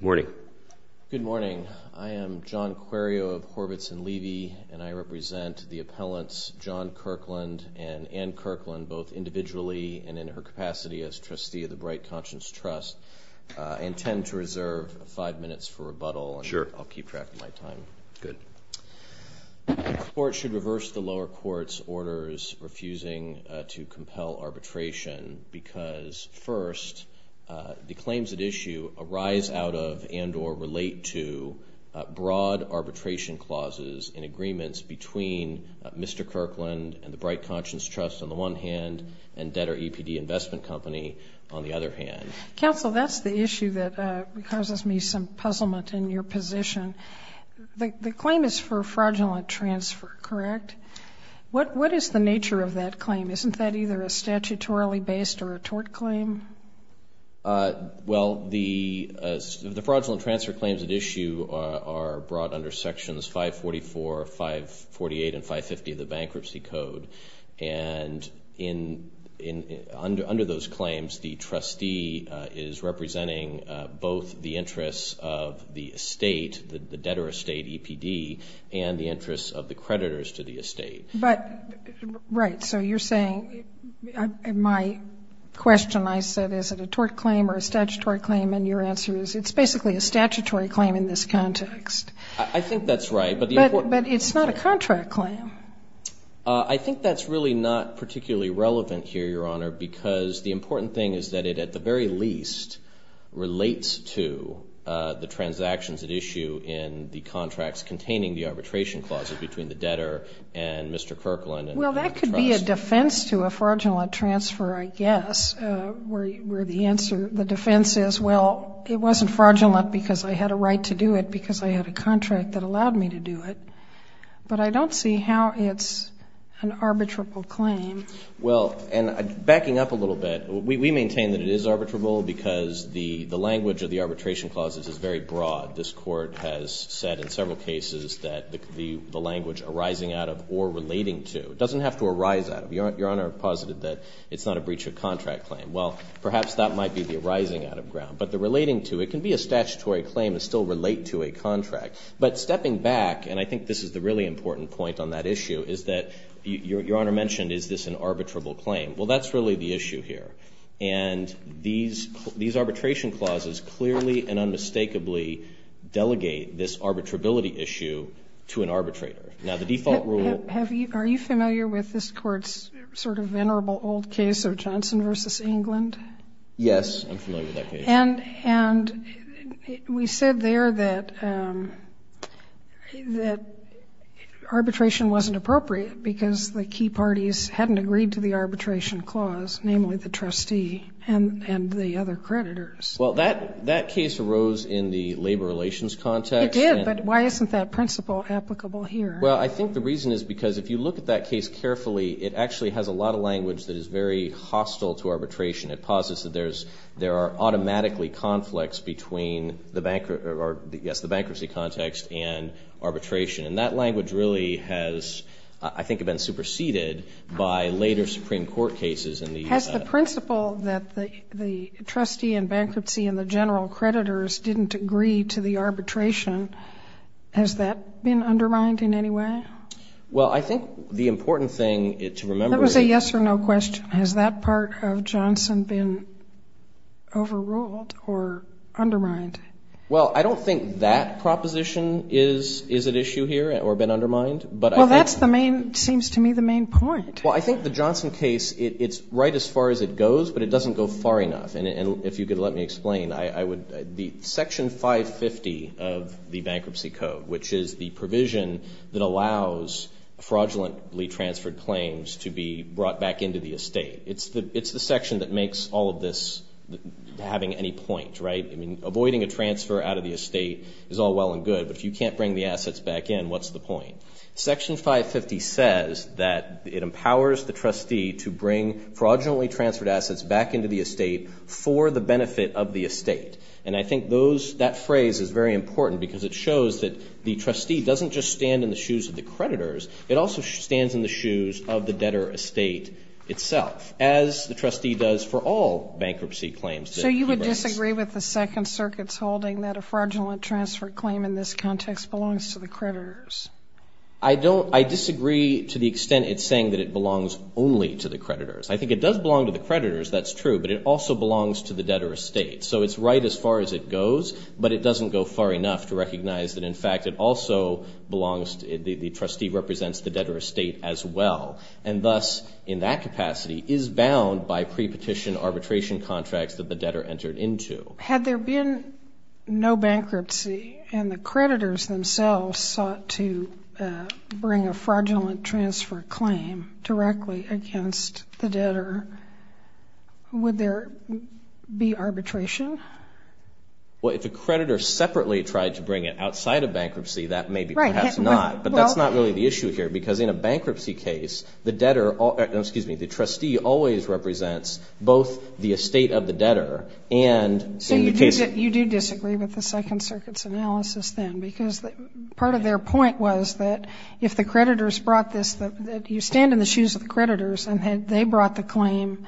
Morning. Good morning. I am John Quirio of Horvitz & Levy, and I represent the appellants John Kirkland and Ann Kirkland, both individually and in her capacity as trustee of the Bright Conscience Trust. I intend to reserve five minutes for rebuttal. Sure. I'll keep track of my time. Good. The court should reverse the lower court's orders refusing to compel arbitration because, first, the claims at issue arise out of and or relate to broad arbitration clauses in agreements between Mr. Kirkland and the Bright Conscience Trust on the one hand and Detter EPD Investment Company on the other hand. Counsel, that's the issue that causes me some puzzlement in your position. The claim is for fraudulent transfer, correct? What is the nature of that claim? Isn't that either a statutorily based or a tort claim? Well, the fraudulent transfer claims at issue are brought under Sections 544, 548, and 550 of the Bankruptcy Code, and under those claims the trustee is of the creditors to the estate. But, right, so you're saying, in my question I said is it a tort claim or a statutory claim, and your answer is it's basically a statutory claim in this context. I think that's right. But it's not a contract claim. I think that's really not particularly relevant here, Your Honor, because the important thing is that it at the very least relates to the transactions at issue in the contracts containing the arbitration clauses between the debtor and Mr. Kirkland and the trust. Well, that could be a defense to a fraudulent transfer, I guess, where the answer the defense is, well, it wasn't fraudulent because I had a right to do it because I had a contract that allowed me to do it. But I don't see how it's an arbitrable claim. Well, and backing up a little bit, we maintain that it is arbitrable because the language of the arbitration clauses is very broad. This Court has said in several cases that the language arising out of or relating to doesn't have to arise out of. Your Honor posited that it's not a breach of contract claim. Well, perhaps that might be the arising out of ground. But the relating to, it can be a statutory claim and still relate to a contract. But stepping back, and I think this is the really important point on that issue, is that Your Honor mentioned is this an arbitrable claim. Well, that's really the issue here. And these arbitration clauses clearly and unmistakably delegate this arbitrability issue to an arbitrator. Now, the default rule Are you familiar with this Court's sort of venerable old case of Johnson v. England? Yes, I'm familiar with that case. And we said there that arbitration wasn't appropriate because the key parties hadn't agreed to the arbitration clause, namely the trustee and the other creditors. Well, that case arose in the labor relations context. It did, but why isn't that principle applicable here? Well, I think the reason is because if you look at that case carefully, it actually has a lot of language that is very hostile to arbitration. It posits that there are automatically conflicts between the bankruptcy context and arbitration. And that language really has, I think, been superseded by later Supreme Court cases in the Has the principle that the trustee in bankruptcy and the general creditors didn't agree to the arbitration, has that been undermined in any way? Well, I think the important thing to remember is Let me say yes or no question. Has that part of Johnson been overruled or undermined? Well, I don't think that proposition is at issue here or been undermined. Well, that seems to me the main point. Well, I think the Johnson case, it's right as far as it goes, but it doesn't go far enough. And if you could let me explain, the Section 550 of the Bankruptcy Code, which is the provision that allows fraudulently transferred claims to be brought back into the estate, it's the section that makes all of this having any point, right? I mean, avoiding a transfer out of the estate is all well and good, but if you can't bring the assets back in, what's the point? Section 550 says that it empowers the trustee to bring fraudulently transferred assets back into the estate for the benefit of the estate. And I think those, that phrase is very important because it shows that the trustee doesn't just stand in the shoes of the creditors, it also stands in the shoes of the debtor estate itself, as the trustee does for all bankruptcy claims. So you would disagree with the Second Circuit's holding that a fraudulent transfer claim in this context belongs to the creditors? I don't, I disagree to the extent it's saying that it belongs only to the creditors. I think it does belong to the creditors, that's true, but it also belongs to the debtor estate. So it's right as far as it goes, but it doesn't go far enough to recognize that, in fact, it also belongs, the trustee represents the debtor estate as well. And thus, in that capacity, is bound by pre-petition arbitration contracts that the debtor entered into. Had there been no bankruptcy and the creditors themselves sought to bring a fraudulent transfer claim directly against the debtor, would there be arbitration? Well, if a creditor separately tried to bring it outside of bankruptcy, that may be perhaps not. But that's not really the issue here, because in a bankruptcy case, the debtor, excuse me, the trustee always represents both the estate of the debtor and in the case of... So you do disagree with the Second Circuit's analysis then, because part of their point was that if the creditors brought this, that you stand in the shoes of the creditors and had they brought the claim,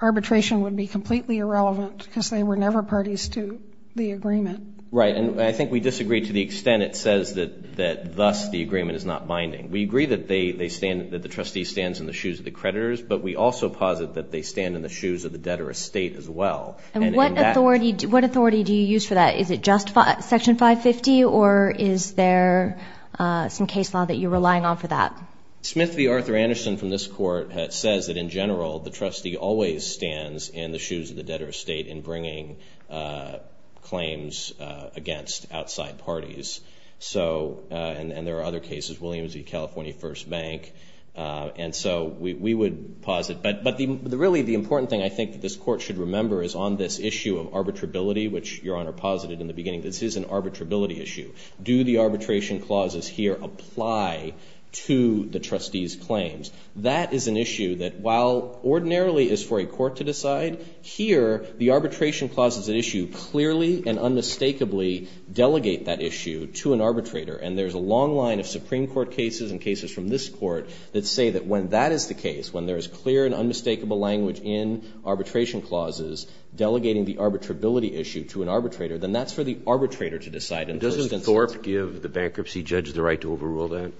arbitration would be completely irrelevant because they were never parties to the agreement. Right, and I think we disagree to the extent it says that thus the agreement is not binding. We agree that they stand, that the trustee stands in the shoes of the creditors, but we also posit that they stand in the shoes of the debtor estate as well. And what authority do you use for that? Is it just Section 550, or is there some case law that you're relying on for that? Smith v. Arthur Anderson from this court says that in general, the trustee always stands in the shoes of the debtor estate in bringing claims against outside parties. So, and there are other cases, Williams v. California First Bank, and so we would posit, but really the important thing I think that this court should remember is on this issue of arbitrability, which Your Honor posited in the beginning, this is an arbitrability issue. Do the arbitration clauses here apply to the trustee's claims? That is an issue that while ordinarily is for a court to decide, here the arbitration clauses at issue clearly and unmistakably delegate that issue to an arbitrator, and there's a long line of Supreme Court cases and cases from this court that say that when that is the case, when there is clear and unmistakable language in arbitration clauses delegating the arbitrability issue to an arbitrator, then that's for the arbitrator to decide. And doesn't Thorpe give the bankruptcy judge the right to overrule that?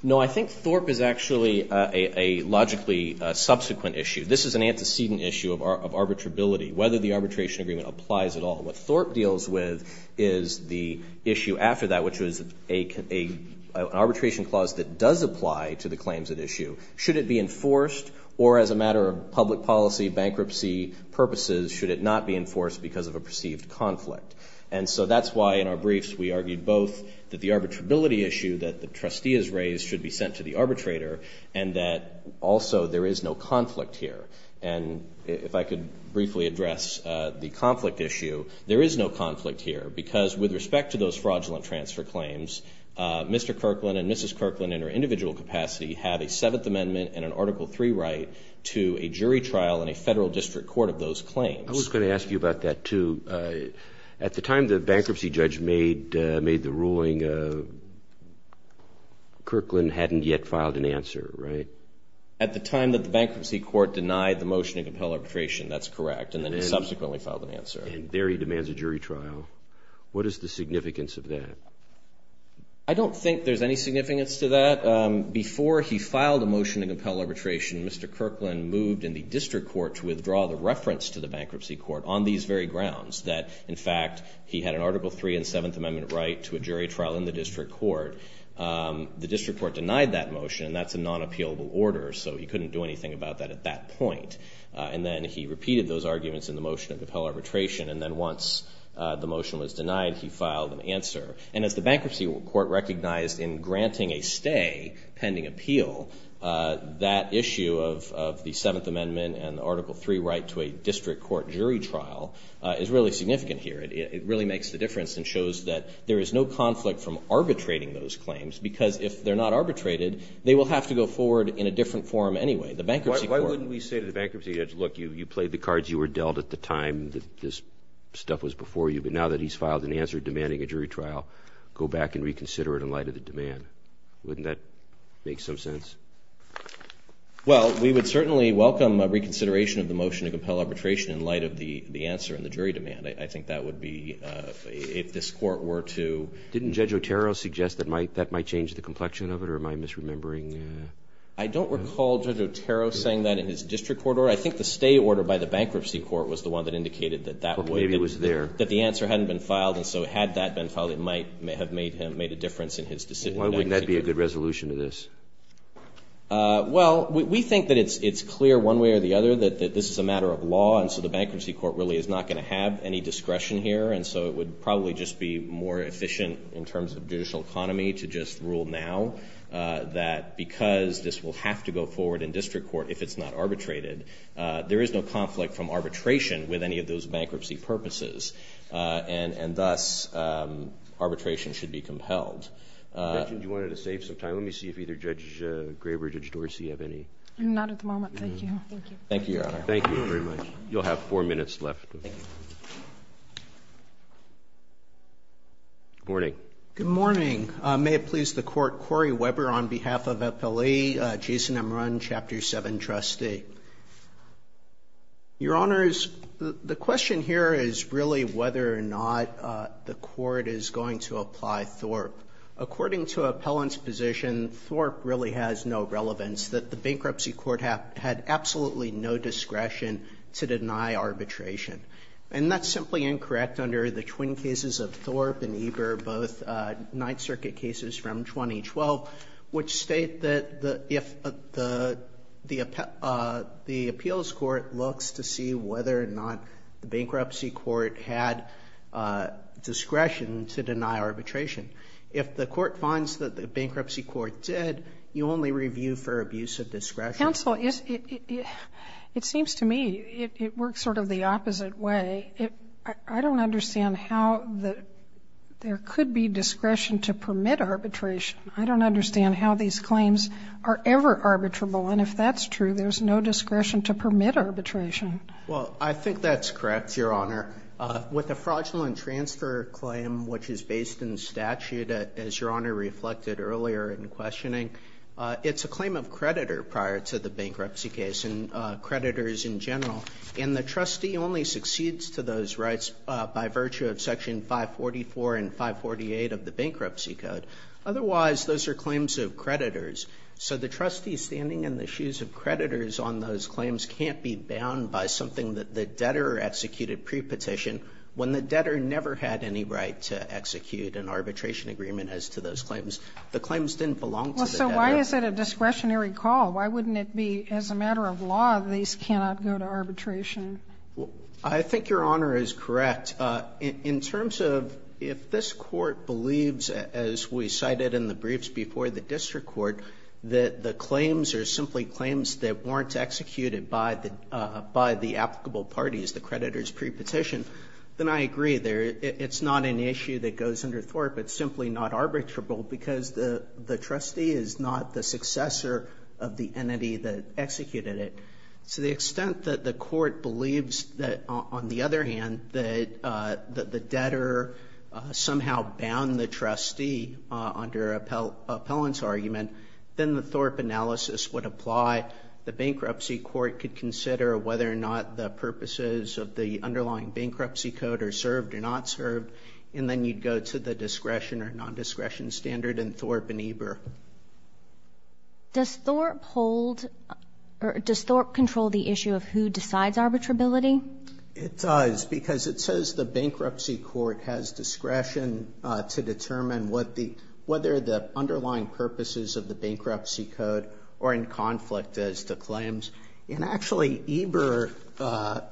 No, I think Thorpe is actually a logically subsequent issue. This is an antecedent issue of arbitrability, whether the arbitration agreement applies at all. What Thorpe deals with is the issue after that, which was an arbitration clause that does apply to the claims at issue. Should it be enforced, or as a matter of public policy, bankruptcy purposes, should it not be enforced because of a perceived conflict? And so that's why in our briefs we argued both that the arbitrability issue that the trustee has raised should be sent to the arbitrator, and that also there is no conflict here. And if I could briefly address the conflict issue, there is no conflict here, because with respect to those fraudulent transfer claims, Mr. Kirkland and Mrs. Kirkland in her individual capacity have a Seventh Amendment and an Article III right to a jury trial in a federal district court of those claims. I was going to ask you about that, too. At the time the bankruptcy judge made the ruling, Kirkland hadn't yet filed an answer, right? At the time that the bankruptcy court denied the motion to compel arbitration, that's correct, and then subsequently filed an answer. And there he demands a jury trial. What is the significance of that? I don't think there's any significance to that. Before he filed a motion to compel arbitration, Mr. Kirkland moved in the district court to withdraw the reference to the bankruptcy court on these very grounds that, in fact, he had an Article III and Seventh Amendment right to a jury trial in the district court. The district court denied that motion, and that's a non-appealable order, so he couldn't do anything about that at that point. And then he repeated those arguments in the motion to compel arbitration, and then once the motion was denied, he filed an answer. And as the bankruptcy court recognized in granting a stay pending appeal, that issue of the Seventh Amendment and the Article III right to a district court jury trial is really significant here. It really makes the difference and shows that there is no conflict from arbitrating those claims, because if they're not arbitrated, they will have to go forward in a different form anyway. The bankruptcy court. Why wouldn't we say to the bankruptcy judge, look, you played the cards you were dealt at the time that this stuff was before you, but now that he's filed an answer demanding a jury trial, go back and reconsider it in light of the demand? Wouldn't that make some sense? Well, we would certainly welcome a reconsideration of the motion to compel arbitration in light of the answer and the jury demand. I think that would be, if this court were to. Didn't Judge Otero suggest that might, that might change the complexion of it or am I misremembering? I don't recall Judge Otero saying that in his district court order. I think the stay order by the bankruptcy court was the one that indicated that that would. Maybe it was there. That the answer hadn't been filed, and so had that been filed, it might have made a difference in his decision. Why wouldn't that be a good resolution to this? Well, we think that it's clear one way or the other that this is a matter of law, and so the bankruptcy court really is not going to have any discretion here, and so it would probably just be more efficient in terms of judicial economy to just rule now that because this will have to go forward in district court if it's not arbitrated, there is no conflict from arbitration with any of those bankruptcy purposes, and thus, arbitration should be compelled. You mentioned you wanted to save some time. Let me see if either Judge Graber or Judge Dorsey have any. Not at the moment. Thank you. Thank you, Your Honor. Thank you very much. You'll have four minutes left. Good morning. Good morning. May it please the Court. Corey Weber on behalf of Appellee Jason Amrun, Chapter 7, Trustee. Your Honors, the question here is really whether or not the Court is going to apply Thorpe. According to Appellant's position, Thorpe really has no relevance, that the bankruptcy court had absolutely no discretion to deny arbitration, and that's simply incorrect under the twin cases of Thorpe and Eber, both Ninth Circuit cases from 2012, which state that if the appeals court looks to see whether or not the bankruptcy court had discretion to deny arbitration, if the court finds that the bankruptcy court did, you only review for abuse of discretion. Counsel, it seems to me it works sort of the opposite way. I don't understand how there could be discretion to permit arbitration. I don't understand how these claims are ever arbitrable. And if that's true, there's no discretion to permit arbitration. Well, I think that's correct, Your Honor. With the fraudulent transfer claim, which is based in statute, as Your Honor reflected earlier in questioning, it's a claim of creditor prior to the bankruptcy case and creditors in general. And the trustee only succeeds to those rights by virtue of Section 544 and 548 of the Bankruptcy Code. Otherwise, those are claims of creditors. So the trustee standing in the shoes of creditors on those claims can't be bound by something that the debtor executed prepetition when the debtor never had any right to execute an arbitration agreement as to those claims. The claims didn't belong to the debtor. Well, so why is it a discretionary call? Why wouldn't it be, as a matter of law, these cannot go to arbitration? Well, I think Your Honor is correct. In terms of if this Court believes, as we cited in the briefs before the district court, that the claims are simply claims that weren't executed by the applicable parties, the creditors prepetition, then I agree. It's not an issue that goes under Thorpe. It's simply not arbitrable because the trustee is not the successor of the entity that executed it. To the extent that the court believes that, on the other hand, that the debtor somehow bound the trustee under appellant's argument, then the Thorpe analysis would apply. The bankruptcy court could consider whether or not the purposes of the underlying bankruptcy code are served or not served. And then you'd go to the discretion or non-discretion standard in Thorpe and Eber. Does Thorpe hold, or does Thorpe control the issue of who decides arbitrability? It does, because it says the bankruptcy court has discretion to determine whether the underlying purposes of the bankruptcy code are in conflict as to claims. And actually, Eber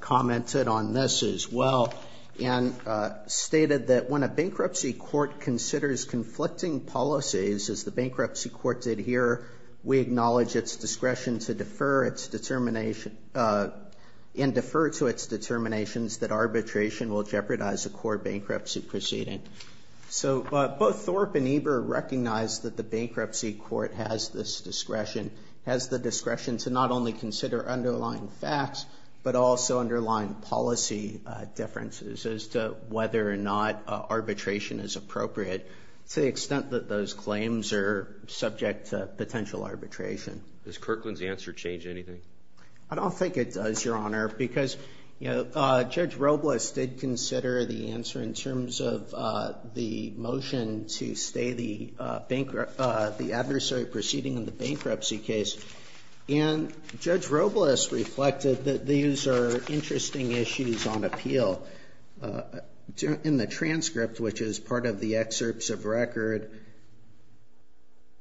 commented on this as well. And stated that when a bankruptcy court considers conflicting policies, as the bankruptcy court did here, we acknowledge its discretion to defer its determination, and defer to its determinations that arbitration will jeopardize a court bankruptcy proceeding. So both Thorpe and Eber recognize that the bankruptcy court has this discretion. Has the discretion to not only consider underlying facts, but also underline policy differences as to whether or not arbitration is appropriate. To the extent that those claims are subject to potential arbitration. Does Kirkland's answer change anything? I don't think it does, Your Honor. Because Judge Robles did consider the answer in terms of the motion to stay the adversary proceeding in the bankruptcy case. And Judge Robles reflected that these are interesting issues on appeal. In the transcript, which is part of the excerpts of record,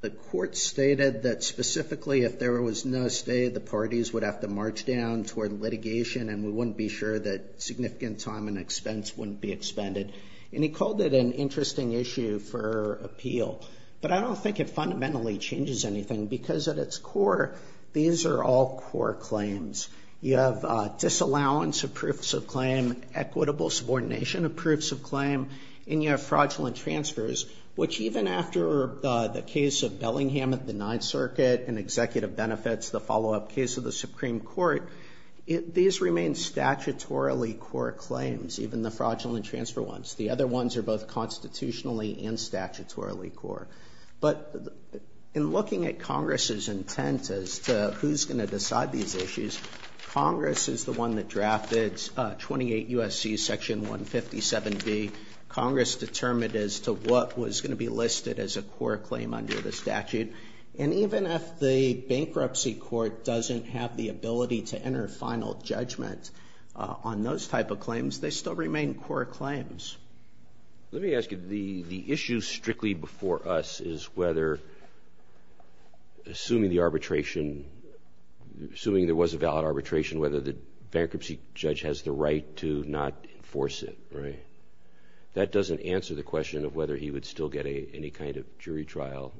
the court stated that specifically if there was no stay, the parties would have to march down toward litigation. And we wouldn't be sure that significant time and expense wouldn't be expended. And he called it an interesting issue for appeal. But I don't think it fundamentally changes anything. Because at its core, these are all core claims. You have disallowance of proofs of claim, equitable subordination of proofs of claim. And you have fraudulent transfers, which even after the case of Bellingham at the Ninth Circuit, and executive benefits, the follow up case of the Supreme Court. These remain statutorily core claims, even the fraudulent transfer ones. The other ones are both constitutionally and statutorily core. But in looking at Congress's intent as to who's going to decide these issues, Congress is the one that drafted 28 U.S.C. Section 157B. Congress determined as to what was going to be listed as a core claim under the statute. And even if the bankruptcy court doesn't have the ability to enter final judgment on those type of claims, they still remain core claims. Let me ask you, the issue strictly before us is whether, assuming the arbitration, assuming there was a valid arbitration, whether the bankruptcy judge has the right to not enforce it, right? That doesn't answer the question of whether he would still get any kind of jury trial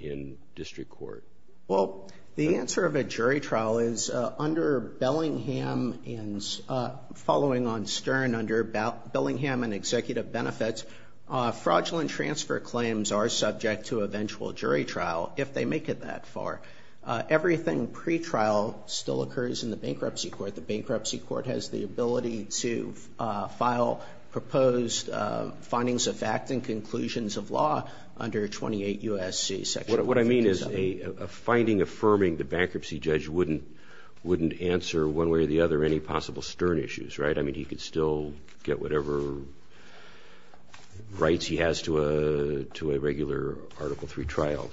in district court. Well, the answer of a jury trial is under Bellingham and Executive Benefits, fraudulent transfer claims are subject to eventual jury trial if they make it that far. Everything pre-trial still occurs in the bankruptcy court. The bankruptcy court has the ability to file proposed findings of fact and conclusions of law under 28 U.S.C. Section 157. What I mean is a finding affirming the bankruptcy judge wouldn't answer one way or the other any possible stern issues, right? I mean, he could still get whatever rights he has to a regular Article III trial.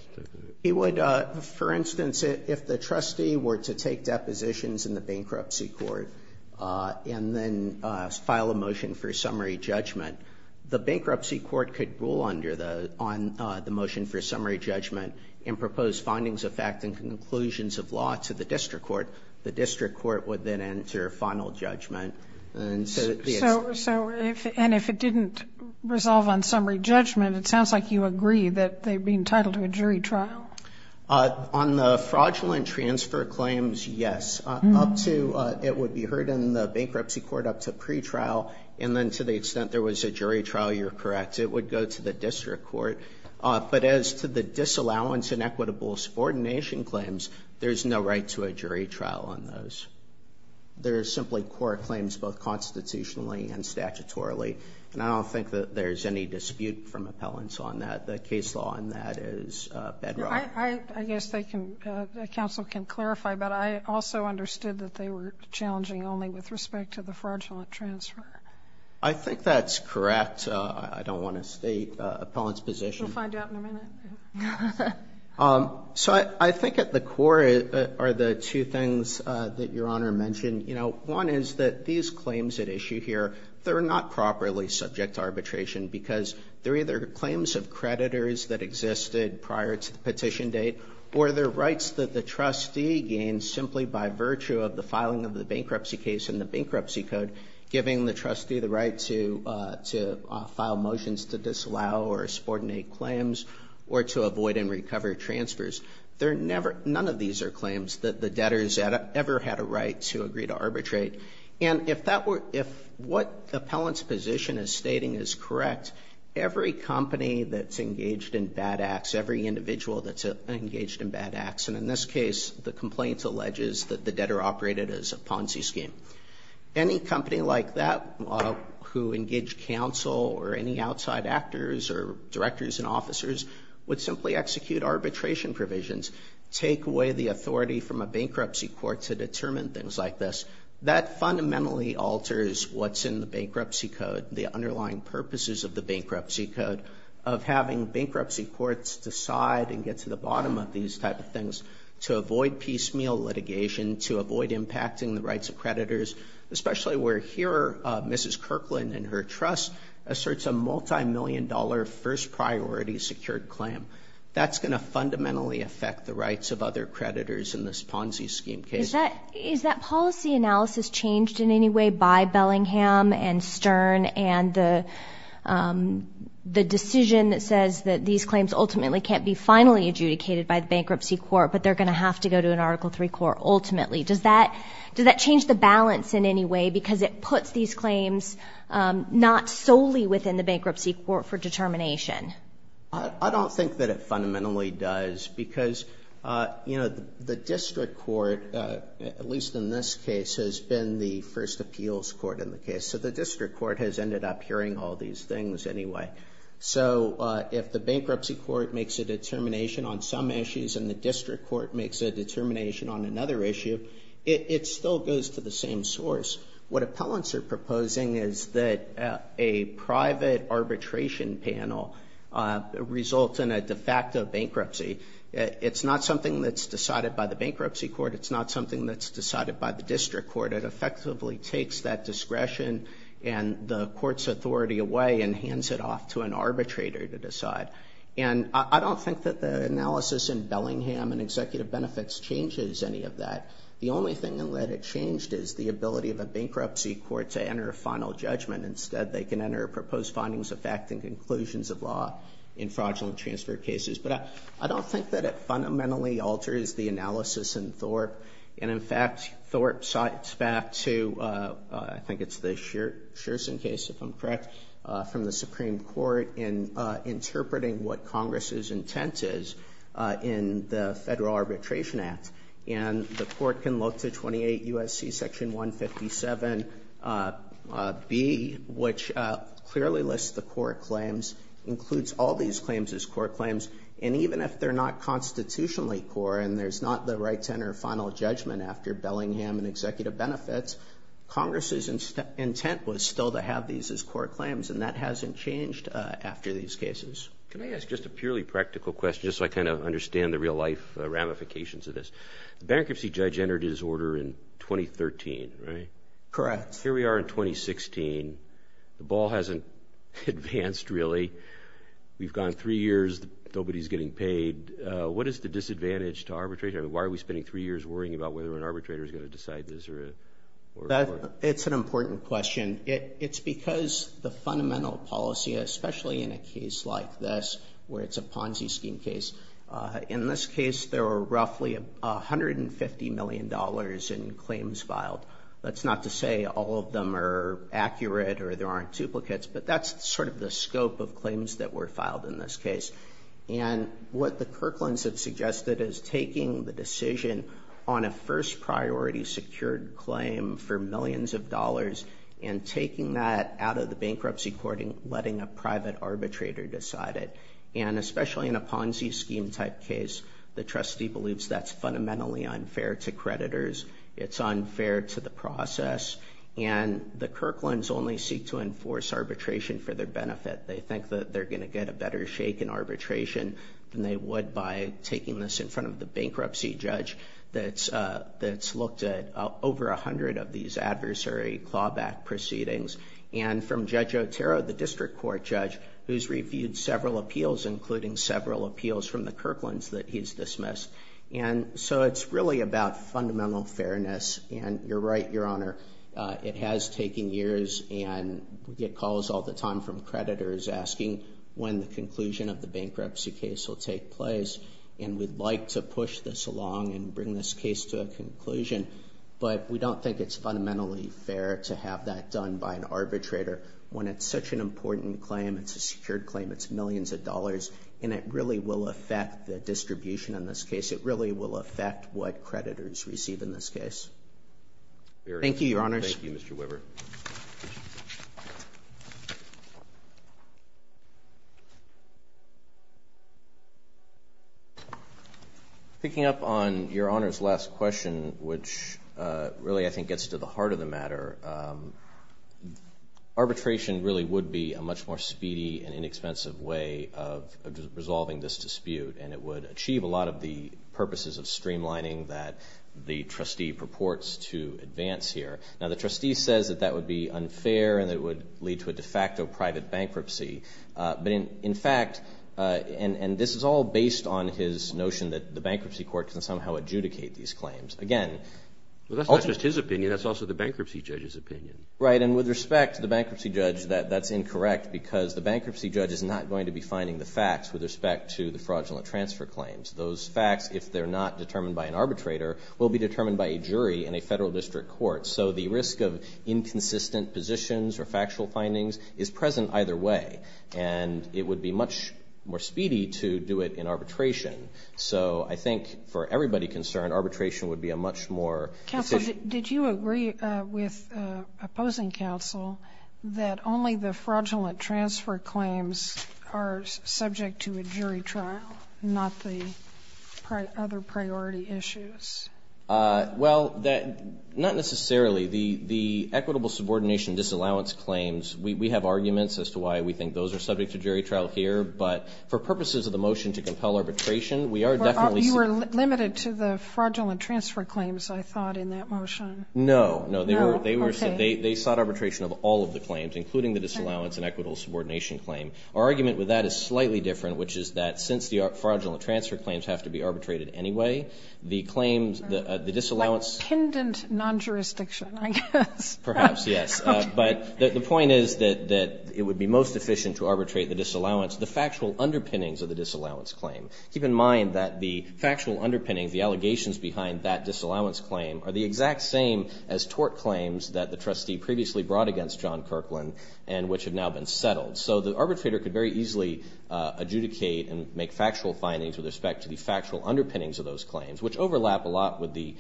He would, for instance, if the trustee were to take depositions in the bankruptcy court and then file a motion for summary judgment, the bankruptcy court could rule under the – on the motion for summary judgment and propose findings of fact and conclusions of law to the district court. The district court would then enter final judgment. And so it's the – So if – and if it didn't resolve on summary judgment, it sounds like you agree that they'd be entitled to a jury trial. On the fraudulent transfer claims, yes, up to – it would be heard in the bankruptcy court up to pre-trial, and then to the extent there was a jury trial, you're correct. It would go to the district court. But as to the disallowance and equitable subordination claims, there's no right to a jury trial on those. There's simply court claims, both constitutionally and statutorily. And I don't think that there's any dispute from appellants on that. The case law on that is bedrock. I guess they can – counsel can clarify, but I also understood that they were challenging only with respect to the fraudulent transfer. I think that's correct. I don't want to state appellants' position. We'll find out in a minute. So I think at the core are the two things that Your Honor mentioned. You know, one is that these claims at issue here, they're not properly subject to arbitration because they're either claims of creditors that existed prior to the petition date or they're rights that the trustee gains simply by virtue of the filing of the bankruptcy case in the bankruptcy code, giving the trustee the or to avoid and recover transfers. They're never – none of these are claims that the debtors ever had a right to agree to arbitrate. And if that were – if what appellant's position is stating is correct, every company that's engaged in bad acts, every individual that's engaged in bad acts, and in this case, the complaint alleges that the debtor operated as a Ponzi scheme, any company like that who engaged counsel or any outside actors or directors and officers would simply execute arbitration provisions, take away the authority from a bankruptcy court to determine things like this. That fundamentally alters what's in the bankruptcy code, the underlying purposes of the bankruptcy code of having bankruptcy courts decide and get to the bottom of these type of things to avoid piecemeal litigation, to avoid impacting the rights of creditors, especially where here Mrs. Kirkland and her trust asserts a multimillion-dollar first-priority secured claim. That's going to fundamentally affect the rights of other creditors in this Ponzi scheme case. Is that policy analysis changed in any way by Bellingham and Stern and the decision that says that these claims ultimately can't be finally adjudicated by the bankruptcy court, but they're going to have to go to an Article III court ultimately? Does that change the balance in any way because it puts these claims not solely within the bankruptcy court for determination? I don't think that it fundamentally does because, you know, the district court, at least in this case, has been the first appeals court in the case. So the district court has ended up hearing all these things anyway. So if the bankruptcy court makes a determination on some issues and the district court makes a determination on another issue, it still goes to the same source. What appellants are proposing is that a private arbitration panel result in a de facto bankruptcy. It's not something that's decided by the bankruptcy court. It's not something that's decided by the district court. It effectively takes that discretion and the court's authority away and hands it off to an arbitrator to decide. And I don't think that the analysis in Bellingham and executive benefits changes any of that. The only thing in that it changed is the ability of a bankruptcy court to enter a final judgment. Instead, they can enter proposed findings of fact and conclusions of law in fraudulent transfer cases. But I don't think that it fundamentally alters the analysis in Thorpe. And in fact, Thorpe cites back to, I think it's the Sherson case, if I'm correct, from the Supreme Court in interpreting what Congress's intent is in the Federal Arbitration Act. And the court can look to 28 U.S.C. Section 157B, which clearly lists the court claims, includes all these claims as court claims. And even if they're not constitutionally core and there's not the right to enter final judgment after Bellingham and executive benefits, Congress's intent was still to have these as court claims. And that hasn't changed after these cases. Can I ask just a purely practical question, just so I kind of understand the real life ramifications of this? The bankruptcy judge entered his order in 2013, right? Correct. Here we are in 2016. The ball hasn't advanced really. We've gone three years, nobody's getting paid. What is the disadvantage to arbitrate? I mean, why are we spending three years worrying about whether an arbitrator is going to decide this or... It's an important question. It's because the fundamental policy, especially in a case like this where it's a Ponzi scheme case, in this case, there were roughly $150 million in claims filed. That's not to say all of them are accurate or there aren't duplicates, but that's sort of the scope of claims that were filed in this case. And what the Kirkland's have suggested is taking the decision on a first priority secured claim for millions of dollars and taking that out of the bankruptcy courting, letting a private arbitrator decide it. And especially in a Ponzi scheme type case, the trustee believes that's fundamentally unfair to creditors. It's unfair to the process. And the Kirkland's only seek to enforce arbitration for their benefit. They think that they're going to get a better shake in arbitration than they would by taking this in front of the bankruptcy judge that's looked at over a hundred of these adversary clawback proceedings. And from Judge Otero, the district court judge, who's reviewed several appeals, including several appeals from the Kirkland's that he's dismissed. And so it's really about fundamental fairness. And you're right, Your Honor, it has taken years and we get calls all the time from creditors asking when the conclusion of the bankruptcy case will take place. And we'd like to push this along and bring this case to a conclusion. But we don't think it's fundamentally fair to have that done by an arbitrator when it's such an important claim, it's a secured claim, it's millions of dollars. And it really will affect the distribution in this case. It really will affect what creditors receive in this case. Thank you, Your Honors. Thank you, Mr. Weber. Picking up on Your Honor's last question, which really, I think, gets to the heart of the matter, arbitration really would be a much more speedy and inexpensive way of resolving this dispute. And it would achieve a lot of the purposes of streamlining that the trustee purports to advance here. Now, the trustee says that that would be unfair and that it would lead to a de facto private bankruptcy. But in fact, and this is all based on his notion that the bankruptcy court can somehow adjudicate these claims. Again- Well, that's not just his opinion, that's also the bankruptcy judge's opinion. Right, and with respect to the bankruptcy judge, that's incorrect because the bankruptcy judge is not going to be finding the facts with respect to the fraudulent transfer claims. Those facts, if they're not determined by an arbitrator, will be determined by a jury in a federal district court. So the risk of inconsistent positions or factual findings is present either way. And it would be much more speedy to do it in arbitration. So I think, for everybody concerned, arbitration would be a much more- Counsel, did you agree with opposing counsel that only the fraudulent transfer claims are subject to a jury trial, not the other priority issues? Well, not necessarily. The equitable subordination disallowance claims, we have arguments as to why we think those are subject to jury trial here, but for purposes of the motion to compel arbitration, we are definitely- You were limited to the fraudulent transfer claims, I thought, in that motion. No, no, they sought arbitration of all of the claims, including the disallowance and equitable subordination claim. Our argument with that is slightly different, which is that since the fraudulent transfer claims have to be arbitrated anyway, the claims, the disallowance- Like kindant non-jurisdiction, I guess. Perhaps, yes. But the point is that it would be most efficient to arbitrate the disallowance, the factual underpinnings of the disallowance claim. Keep in mind that the factual underpinnings, the allegations behind that disallowance claim are the exact same as tort claims that the trustee previously brought against John Kirkland and which have now been settled. So the arbitrator could very easily adjudicate and make factual findings with respect to the factual underpinnings of those claims, which overlap a lot with the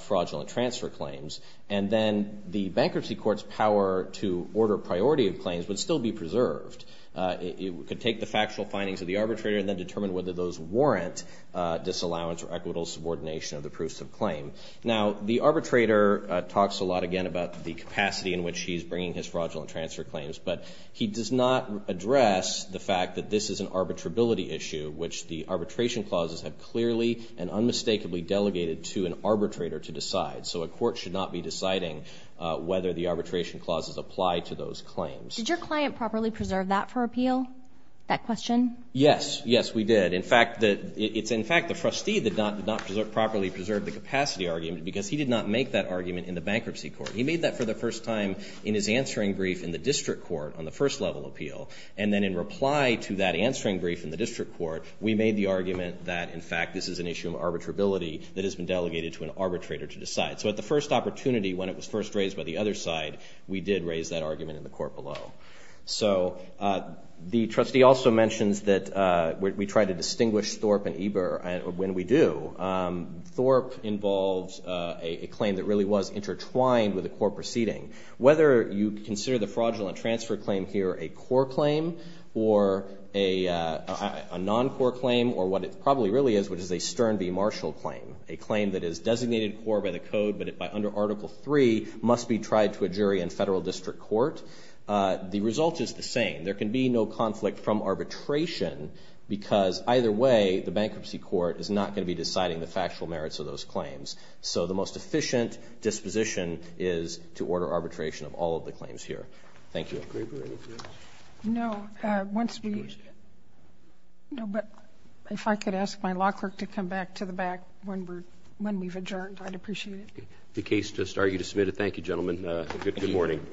fraudulent transfer claims. And then the bankruptcy court's power to order priority of claims would still be preserved. It could take the factual findings of the arbitrator and then determine whether those warrant disallowance or equitable subordination of the proofs of claim. Now, the arbitrator talks a lot, again, about the capacity in which he's bringing his fraudulent transfer claims. But he does not address the fact that this is an arbitrability issue, which the arbitration clauses have clearly and unmistakably delegated to an arbitrator to decide. So a court should not be deciding whether the arbitration clauses apply to those claims. Did your client properly preserve that for appeal, that question? Yes. Yes, we did. In fact, it's in fact the trustee that did not properly preserve the capacity argument because he did not make that argument in the bankruptcy court. He made that for the first time in his answering brief in the district court on the first level appeal. And then in reply to that answering brief in the district court, we made the argument that, in fact, this is an issue of arbitrability that has been delegated to an arbitrator to decide. So at the first opportunity, when it was first raised by the other side, we did raise that argument in the court below. So the trustee also mentions that we try to distinguish Thorpe and Eber when we do. Thorpe involves a claim that really was intertwined with a court proceeding. Whether you consider the fraudulent transfer claim here a core claim or a non-core claim or what it probably really is, which is a Stern v. Marshall claim, a claim that is designated core by the code but under Article III must be tried to a jury in federal district court, the result is the same. There can be no conflict from arbitration because either way, the bankruptcy court is not going to be deciding the factual merits of those claims. So the most efficient disposition is to order arbitration of all of the claims here. Thank you. No, but if I could ask my law clerk to come back to the back when we've adjourned, I'd appreciate it. The case just argued is submitted. Thank you, gentlemen. Good morning.